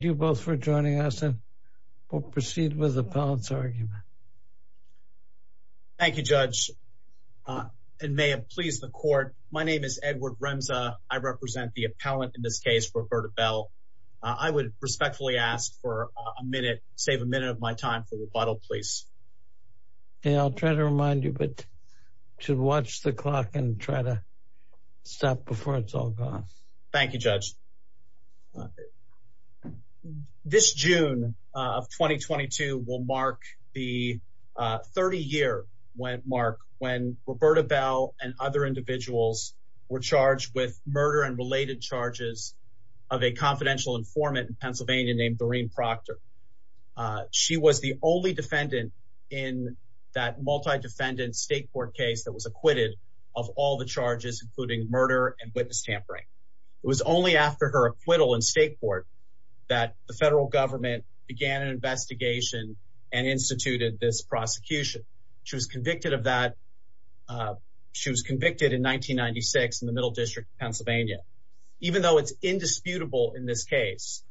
Thank you both for joining us, and we'll proceed with the appellant's argument. Thank you, Judge, and may it please the Court, my name is Edward Remza. I represent the appellant in this case, Roberta Bell. I would respectfully ask for a minute, save a minute of my time for rebuttal, please. Okay, I'll try to remind you, but you should watch the clock and try to stop before it's all gone. Thank you, Judge. Thank you, Judge. This June of 2022 will mark the 30-year mark when Roberta Bell and other individuals were charged with murder and related charges of a confidential informant in Pennsylvania named Doreen Proctor. She was the only defendant in that multi-defendant state court case that was acquitted of all the charges, including murder and witness tampering. It was only after her acquittal in state court that the federal government began an investigation and instituted this prosecution. She was convicted of that, she was convicted in 1996 in the Middle District of Pennsylvania. Even though it's indisputable in this case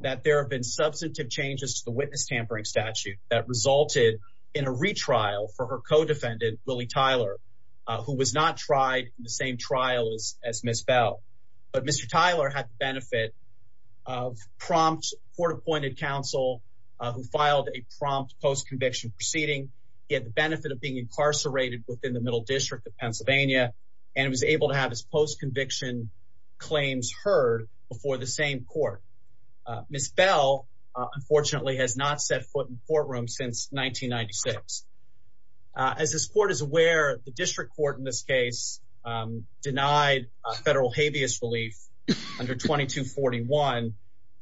that there have been substantive changes to the witness tampering statute that resulted in a retrial for her co-defendant, Willie Tyler, who was not tried in the same trial as Ms. Bell. But Mr. Tyler had the benefit of prompt court-appointed counsel who filed a prompt post-conviction proceeding. He had the benefit of being incarcerated within the Middle District of Pennsylvania and was able to have his post-conviction claims heard before the same court. Ms. Bell, unfortunately, has not set foot in the courtroom since 1996. As this court is aware, the district court in this case denied federal habeas relief under 2241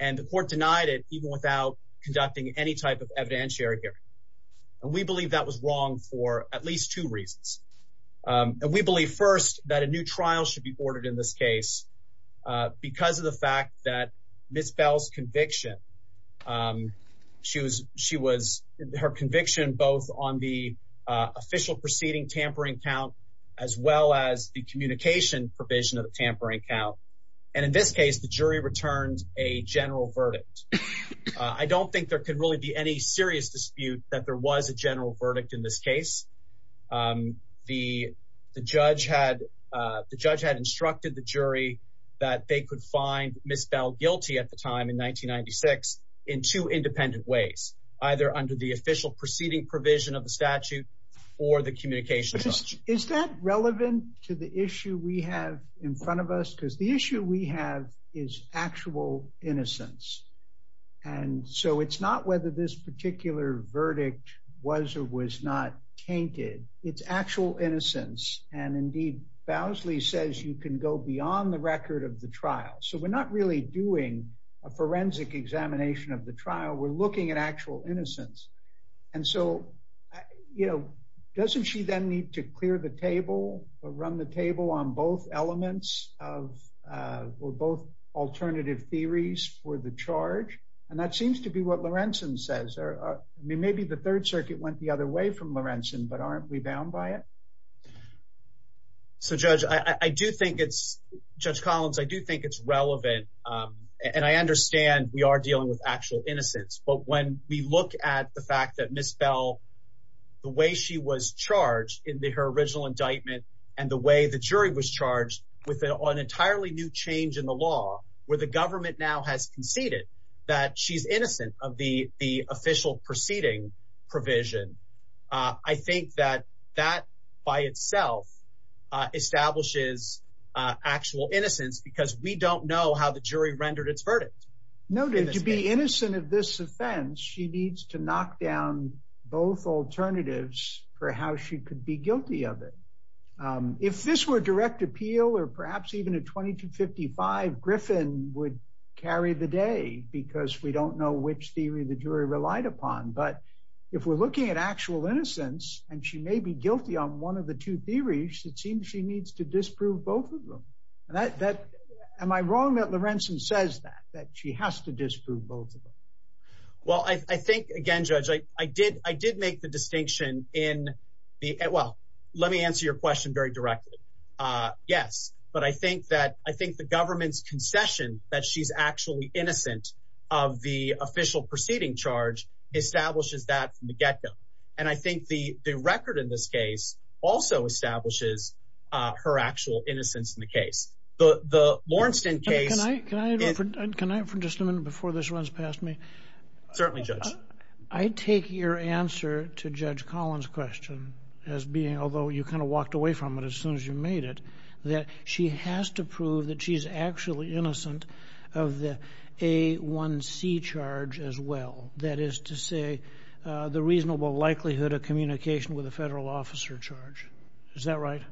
and the court denied it even without conducting any type of evidentiary hearing. We believe that was wrong for at least two reasons. We believe first that a new trial should be ordered in this case because of the fact that Ms. Bell's conviction, her conviction both on the official proceeding tampering count as well as the communication provision of the tampering count. And in this case, the jury returned a general verdict. I don't think there could really be any serious dispute that there was a general verdict in this case. The judge had instructed the jury that they could find Ms. Bell guilty at the time in 1996 in two proceeding provision of the statute or the communication. Is that relevant to the issue we have in front of us? Because the issue we have is actual innocence. And so it's not whether this particular verdict was or was not tainted. It's actual innocence. And indeed, Bowsley says you can go beyond the record of the trial. So we're not really doing a forensic examination of the trial. And so, you know, doesn't she then need to clear the table or run the table on both elements of or both alternative theories for the charge? And that seems to be what Lorenzen says. I mean, maybe the Third Circuit went the other way from Lorenzen, but aren't we bound by it? So, Judge, I do think it's, Judge Collins, I do think it's relevant. And I understand we are bound by the fact that Ms. Bell, the way she was charged in her original indictment, and the way the jury was charged with an entirely new change in the law, where the government now has conceded that she's innocent of the official proceeding provision. I think that that by itself establishes actual innocence because we don't know how the jury rendered its verdict. No, to be innocent of this offense, she needs to knock down both alternatives for how she could be guilty of it. If this were direct appeal, or perhaps even a 2255, Griffin would carry the day because we don't know which theory the jury relied upon. But if we're looking at actual innocence, and she may be guilty on one of the two theories, it seems she needs to disprove both of them. Am I wrong that Lorenzen says that, that she has to disprove both of them? Well, I think, again, Judge, I did make the distinction in the, well, let me answer your question very directly. Yes, but I think that I think the government's concession that she's actually innocent of the official proceeding charge establishes that from the get go. And I think that also establishes her actual innocence in the case. The Lorenzen case... Can I interrupt for just a minute before this runs past me? Certainly, Judge. I take your answer to Judge Collins' question as being, although you kind of walked away from it as soon as you made it, that she has to prove that she's actually innocent of the A1C charge as well. That is to say, the reasonable likelihood of communication with a federal officer charge. Is that right?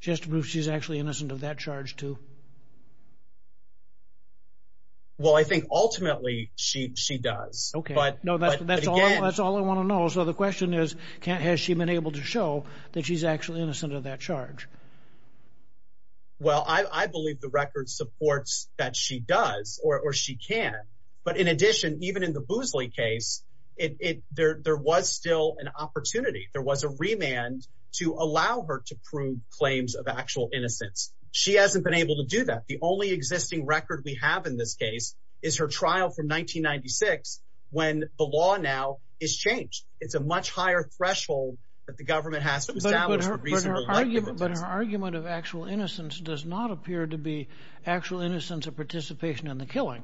She has to prove she's actually innocent of that charge too? Well, I think ultimately she does. Okay. No, that's all I want to know. So the question is, has she been able to show that she's actually innocent of that charge? Well, I believe the record supports that she does or she can. But in addition, even in the claims of actual innocence, she hasn't been able to do that. The only existing record we have in this case is her trial from 1996 when the law now is changed. It's a much higher threshold that the government has to establish the reasonable likelihood. But her argument of actual innocence does not appear to be actual innocence of participation in the killing.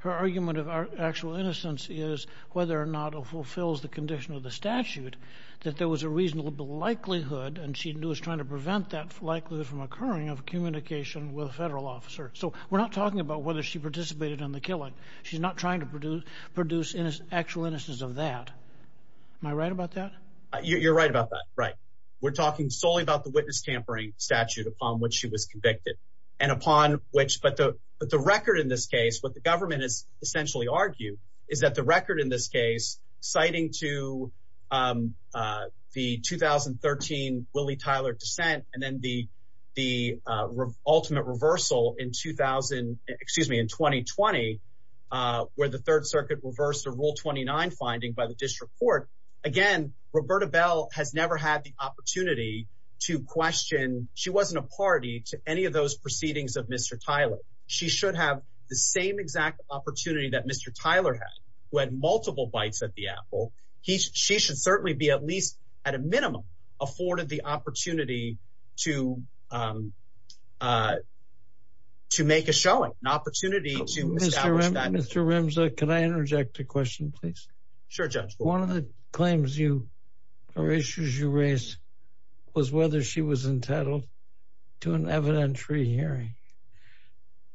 Her argument of actual innocence is whether or not it fulfills the condition of statute that there was a reasonable likelihood, and she was trying to prevent that likelihood from occurring, of communication with a federal officer. So we're not talking about whether she participated in the killing. She's not trying to produce actual innocence of that. Am I right about that? You're right about that. Right. We're talking solely about the witness tampering statute upon which she was convicted. But the record in this case, what the government has essentially argued is that the record in this case, citing to the 2013 Willie Tyler dissent and then the ultimate reversal in 2000, excuse me, in 2020, where the Third Circuit reversed the Rule 29 finding by the district court. Again, Roberta Bell has never had the opportunity to question. She wasn't a party to any of those proceedings of Mr. Tyler. She should have the same exact opportunity that Mr. Tyler had, who had multiple bites at the apple. She should certainly be at least at a minimum afforded the opportunity to make a showing, an opportunity to establish that. Mr. Remza, can I interject a question, please? Sure, Judge. One of the claims you or issues you raised was whether she was entitled to an evidentiary hearing.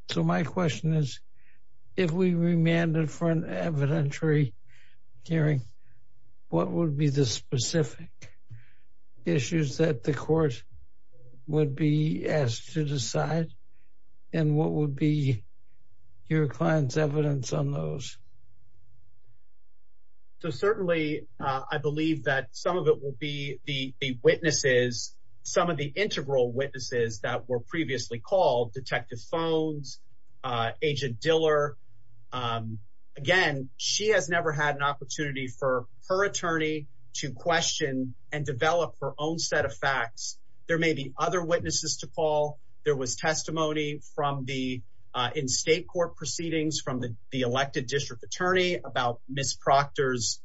So my question is, if we remanded for an evidentiary hearing, what would be the specific issues that the court would be asked to decide? And what would be your client's evidence on those? So certainly, I believe that some of it will be the witnesses, some of the integral witnesses that were previously called, Detective Phones, Agent Diller. Again, she has never had an opportunity for her attorney to question and develop her own set of facts. There may be other witnesses to call. There was testimony in state court proceedings from the elected district attorney about Ms. Proctor's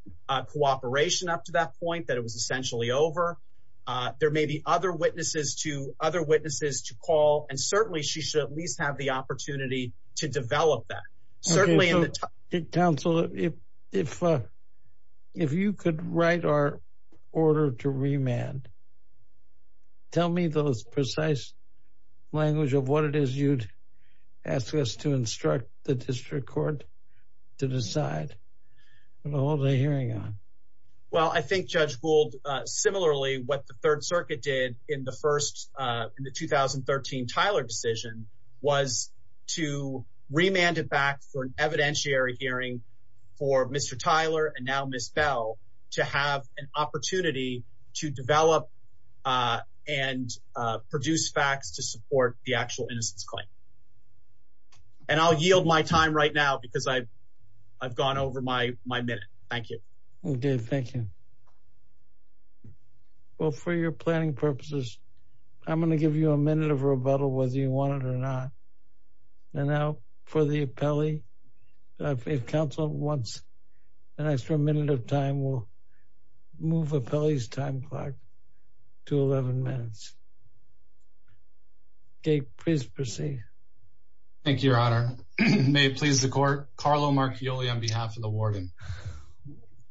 cooperation up to that point, that it was essentially over. There may be other witnesses to call, and certainly she should at least have the opportunity to develop that. Counsel, if you could write our order to remand, tell me the precise language of what it is you'd ask us to instruct the district court. To decide what to hold a hearing on. Well, I think Judge Gould, similarly, what the Third Circuit did in the first, in the 2013 Tyler decision, was to remand it back for an evidentiary hearing for Mr. Tyler and now Ms. Bell to have an opportunity to develop and produce facts to I've gone over my minute. Thank you. Okay, thank you. Well, for your planning purposes, I'm going to give you a minute of rebuttal whether you want it or not. And now for the appellee, if counsel wants an extra minute of time, we'll move appellee's time clock to 11 minutes. Okay, please proceed. Thank you, Your Honor. May it please the court. Carlo Marchioli on behalf of the warden.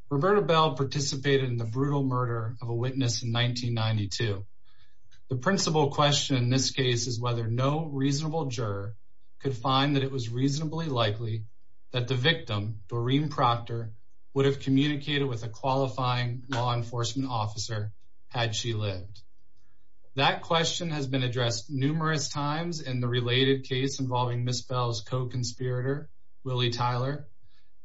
Roberta Bell participated in the brutal murder of a witness in 1992. The principal question in this case is whether no reasonable juror could find that it was reasonably likely that the victim, Doreen Proctor, would have communicated with a qualifying law enforcement officer had she lived. That question has been addressed numerous times in the related case involving Ms. Bell's co-conspirator, Willie Tyler,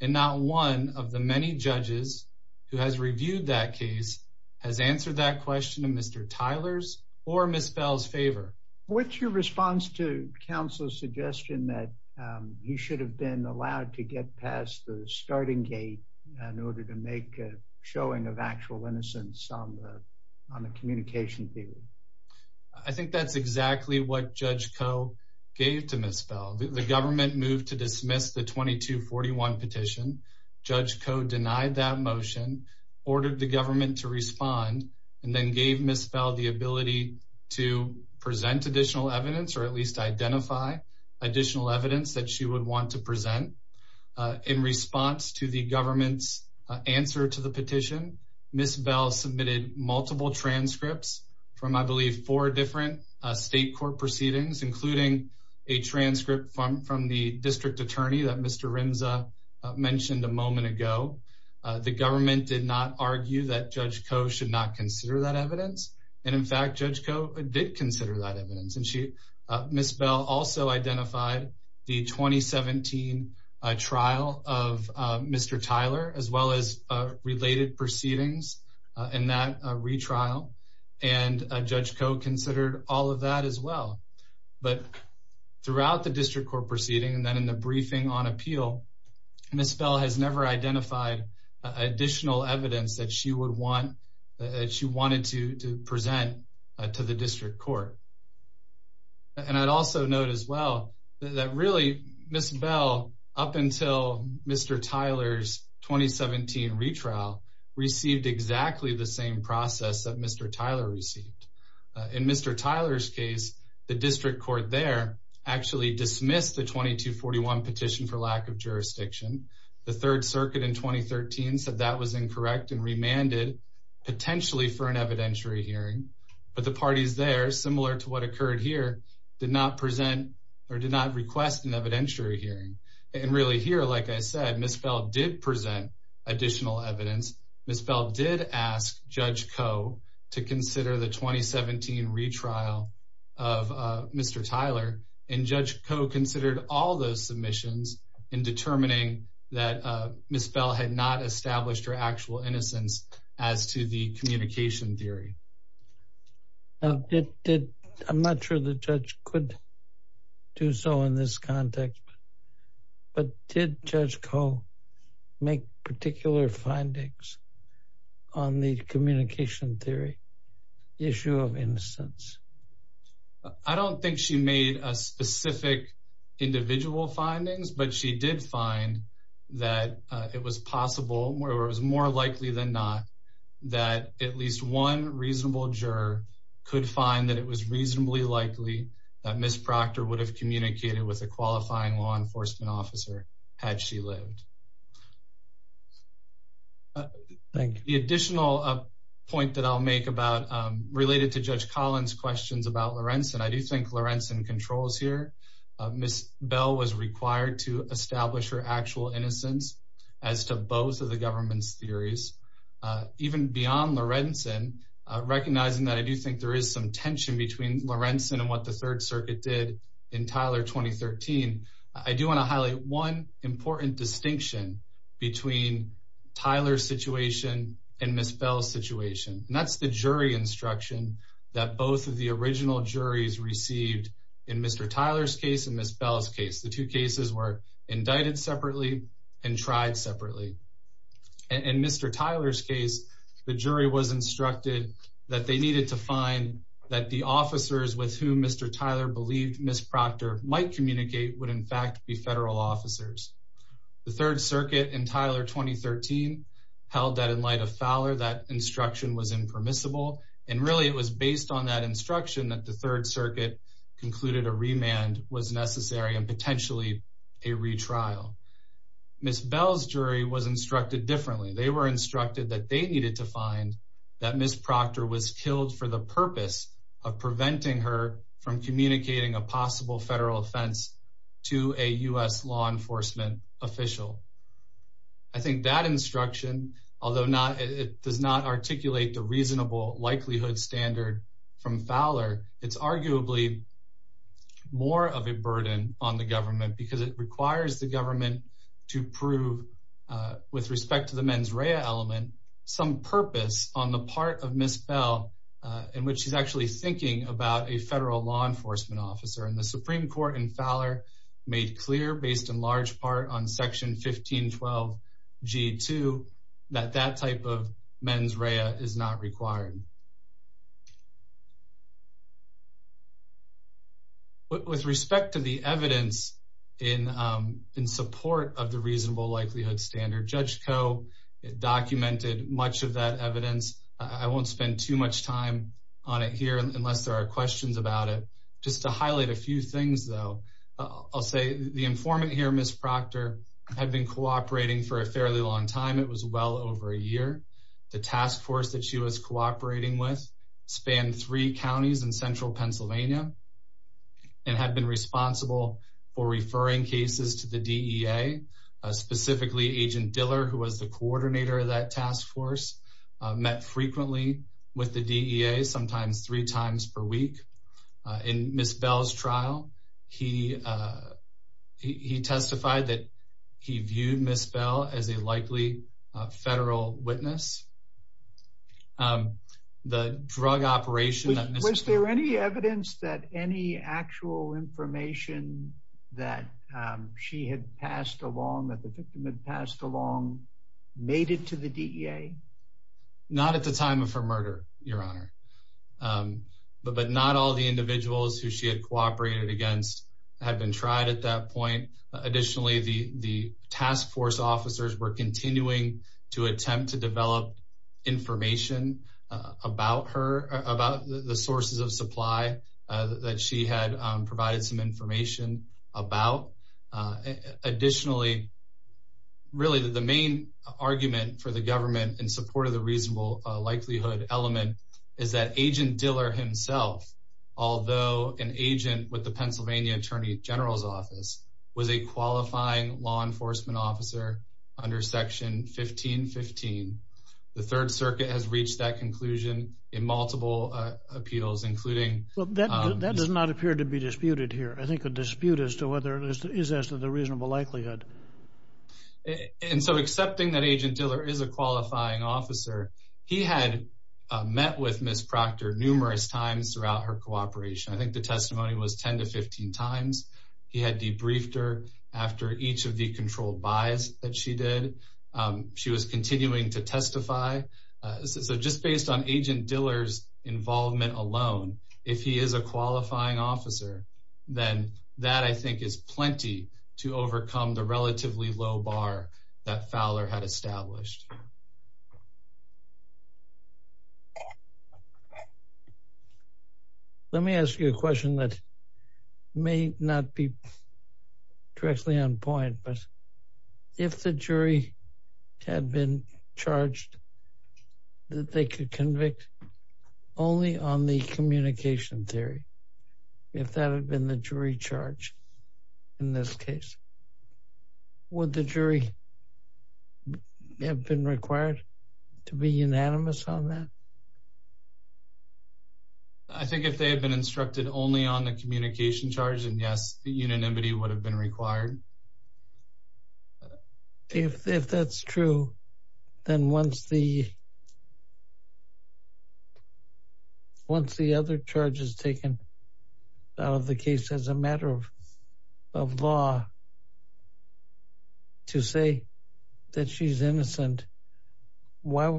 and not one of the many judges who has reviewed that case has answered that question in Mr. Tyler's or Ms. Bell's favor. What's your response to counsel's suggestion that he should have been allowed to get past the starting gate in order to make a showing of actual innocence on the communication theory? I think that's exactly what Judge Koh gave to Ms. Bell. The government moved to dismiss the 2241 petition. Judge Koh denied that motion, ordered the government to respond, and then gave Ms. Bell the ability to present additional evidence or at least identify additional evidence that she would want to present. In response to the government's answer to the petition, Ms. Bell submitted multiple transcripts from, I believe, four different state court proceedings, including a transcript from the district attorney that Mr. Rimza mentioned a moment ago. The government did not argue that Judge Koh should not consider that evidence, and in fact, Judge Koh did consider that 2017 trial of Mr. Tyler, as well as related proceedings in that retrial, and Judge Koh considered all of that as well. But throughout the district court proceeding, and then in the briefing on appeal, Ms. Bell has never identified additional evidence that she would want, that she wanted to up until Mr. Tyler's 2017 retrial, received exactly the same process that Mr. Tyler received. In Mr. Tyler's case, the district court there actually dismissed the 2241 petition for lack of jurisdiction. The Third Circuit in 2013 said that was incorrect and remanded potentially for an evidentiary hearing, but the parties there, similar to what occurred here, did not present or did not request an evidentiary hearing. And really here, like I said, Ms. Bell did present additional evidence. Ms. Bell did ask Judge Koh to consider the 2017 retrial of Mr. Tyler, and Judge Koh considered all those submissions in determining that Ms. Bell had not established her do so in this context. But did Judge Koh make particular findings on the communication theory, issue of innocence? I don't think she made a specific individual findings, but she did find that it was possible, or it was more likely than not, that at least one reasonable juror could find that it was reasonably likely that Ms. Proctor would have communicated with a qualifying law enforcement officer had she lived. The additional point that I'll make related to Judge Collins' questions about Lorenzen, I do think Lorenzen controls here. Ms. Bell was required to establish her actual innocence as to both of the government's theories. Even beyond Lorenzen, recognizing that I do think there is some tension between Lorenzen and what the Third Circuit did in Tyler 2013, I do want to highlight one important distinction between Tyler's situation and Ms. Bell's situation, and that's the jury instruction that both of the original juries received in Mr. Tyler's case and Ms. Bell's case. The two cases were indicted separately and tried separately. In Mr. Tyler's case, the jury was instructed that they needed to find that the officers with whom Mr. Tyler believed Ms. Proctor might communicate would in fact be federal officers. The Third Circuit in Tyler 2013 held that in light of Fowler, that instruction was impermissible. And really, it was based on that instruction that the Third Circuit concluded a remand was necessary and potentially a retrial. Ms. Bell's jury was instructed differently. They were instructed that they needed to find that Ms. Proctor was killed for the purpose of preventing her from communicating a possible federal offense to a U.S. law enforcement official. I think that instruction, although it does not articulate the reasonable likelihood standard from Fowler, it's arguably more of a burden on the government because it requires the government to prove, with respect to the mens rea element, some purpose on the part of Ms. Bell, in which she's actually thinking about a federal law enforcement officer. And the Supreme Court in Fowler made clear, based in large part on Section 1512G2, that that type of mens rea is not required. With respect to the evidence in support of the reasonable likelihood standard, Judge Koh documented much of that evidence. I won't spend too much time on it here unless there are questions about it. Just to highlight a few things, though, I'll say the informant here, Ms. Proctor, had been cooperating for a fairly long time. It was well over a year. The task force that she was cooperating with spanned three counties in central Pennsylvania and had been responsible for referring cases to the DEA. Specifically, Agent Diller, who was the coordinator of that task force, met frequently with the DEA, sometimes three times per week. In Ms. Bell's case, the drug operation... Was there any evidence that any actual information that she had passed along, that the victim had passed along, made it to the DEA? Not at the time of her murder, Your Honor. But not all the individuals who she had cooperated against had been tried at that point. Additionally, the task force officers were continuing to attempt to develop information about the sources of supply that she had provided some information about. Additionally, really, the main argument for the government in support of the reasonable likelihood element is that Agent Diller himself, although an agent with the 1515, the Third Circuit has reached that conclusion in multiple appeals, including... Well, that does not appear to be disputed here. I think a dispute is as to the reasonable likelihood. And so, accepting that Agent Diller is a qualifying officer, he had met with Ms. Proctor numerous times throughout her cooperation. I think the testimony was 10 to 15 times. He had debriefed her after each of the controlled buys that she did. She was continuing to testify. So just based on Agent Diller's involvement alone, if he is a qualifying officer, then that, I think, is plenty to overcome the relatively low bar that Fowler had established. Let me ask you a question that may not be directly on point, but if the jury had been charged that they could convict only on the communication theory, if that had been the jury charge in this case, would the jury have been required to be unanimous on that? I think if they had been instructed only on the communication charge, and yes, unanimity would have been required. If that's true, then once the other charge is taken out of the case as a matter of law, to say that she's innocent, why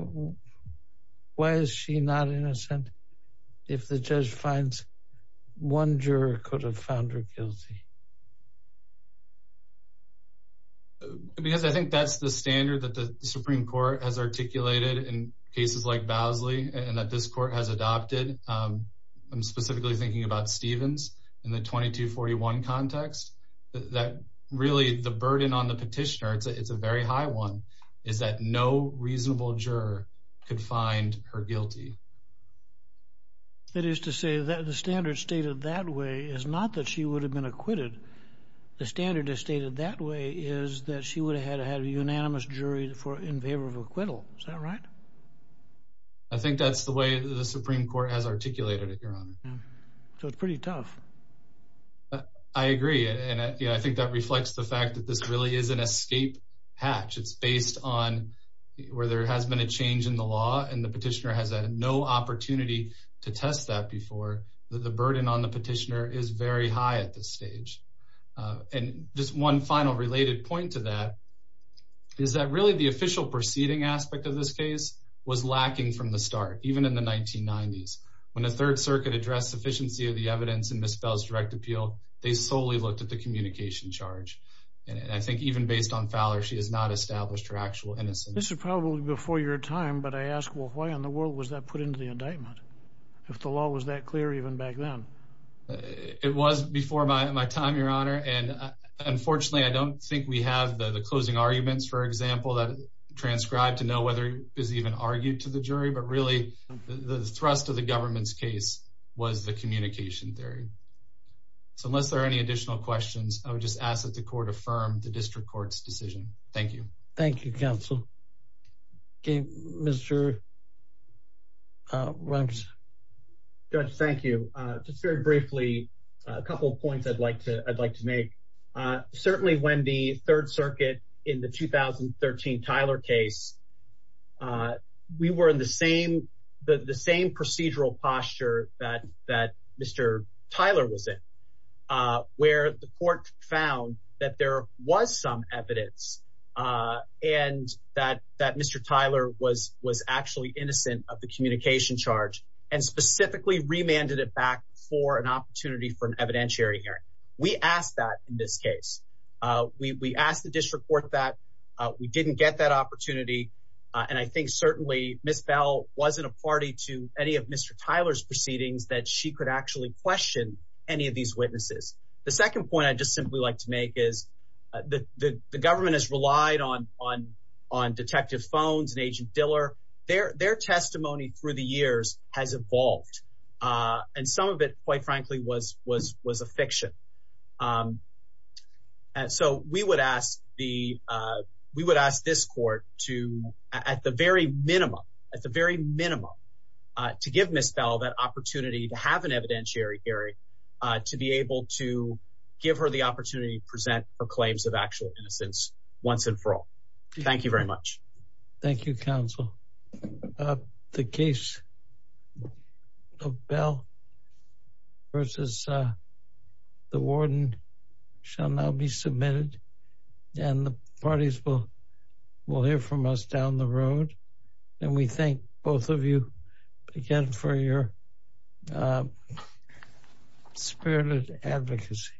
is she not innocent if the judge finds one juror could have found her guilty? Because I think that's the standard that the Supreme Court has articulated in cases like Bosley and that this court has adopted. I'm specifically thinking about Stevens in the reasonable juror could find her guilty. That is to say that the standard stated that way is not that she would have been acquitted. The standard is stated that way is that she would have had a unanimous jury in favor of acquittal. Is that right? I think that's the way the Supreme Court has articulated it, Your Honor. So it's pretty tough. I agree, and I think that reflects the hatch. It's based on where there has been a change in the law, and the petitioner has had no opportunity to test that before. The burden on the petitioner is very high at this stage. And just one final related point to that is that really the official proceeding aspect of this case was lacking from the start, even in the 1990s. When the Third Circuit addressed sufficiency of the evidence in Miss Bell's direct appeal, they solely looked at the communication charge. And I think even based on Fowler, she has not established her actual innocence. This is probably before your time, but I ask, well, why in the world was that put into the indictment? If the law was that clear even back then? It was before my time, Your Honor. And unfortunately, I don't think we have the closing arguments, for example, that transcribed to know whether it was even argued to the jury. But really, the thrust of the government's case was the communication theory. So unless there are any additional questions, I would just ask the court to affirm the district court's decision. Thank you. Thank you, counsel. Okay, Mr. Runtz. Judge, thank you. Just very briefly, a couple of points I'd like to make. Certainly when the Third Circuit in the 2013 Tyler case, we were in the same procedural posture that Mr. Tyler was in, where the court found that there was some evidence, and that Mr. Tyler was actually innocent of the communication charge, and specifically remanded it back for an opportunity for an evidentiary hearing. We asked that in this case. We asked the district court that. We didn't get that opportunity. And I think certainly Miss Bell wasn't a party to any of Mr. Tyler's proceedings that she could actually question any of these witnesses. The second point I'd just simply like to make is that the government has relied on Detective Phones and Agent Diller. Their testimony through the years has evolved. And some of it, quite frankly, was a fiction. So we would ask this court to, at the very minimum, at the very minimum, to give Miss Bell that opportunity to have an evidentiary hearing, to be able to give her the opportunity to present for claims of actual innocence once and for all. Thank you very much. Thank you, counsel. The case of Bell versus the warden shall now be submitted, and the parties will hear from us down the road. And we thank both of you again for your spirited advocacy.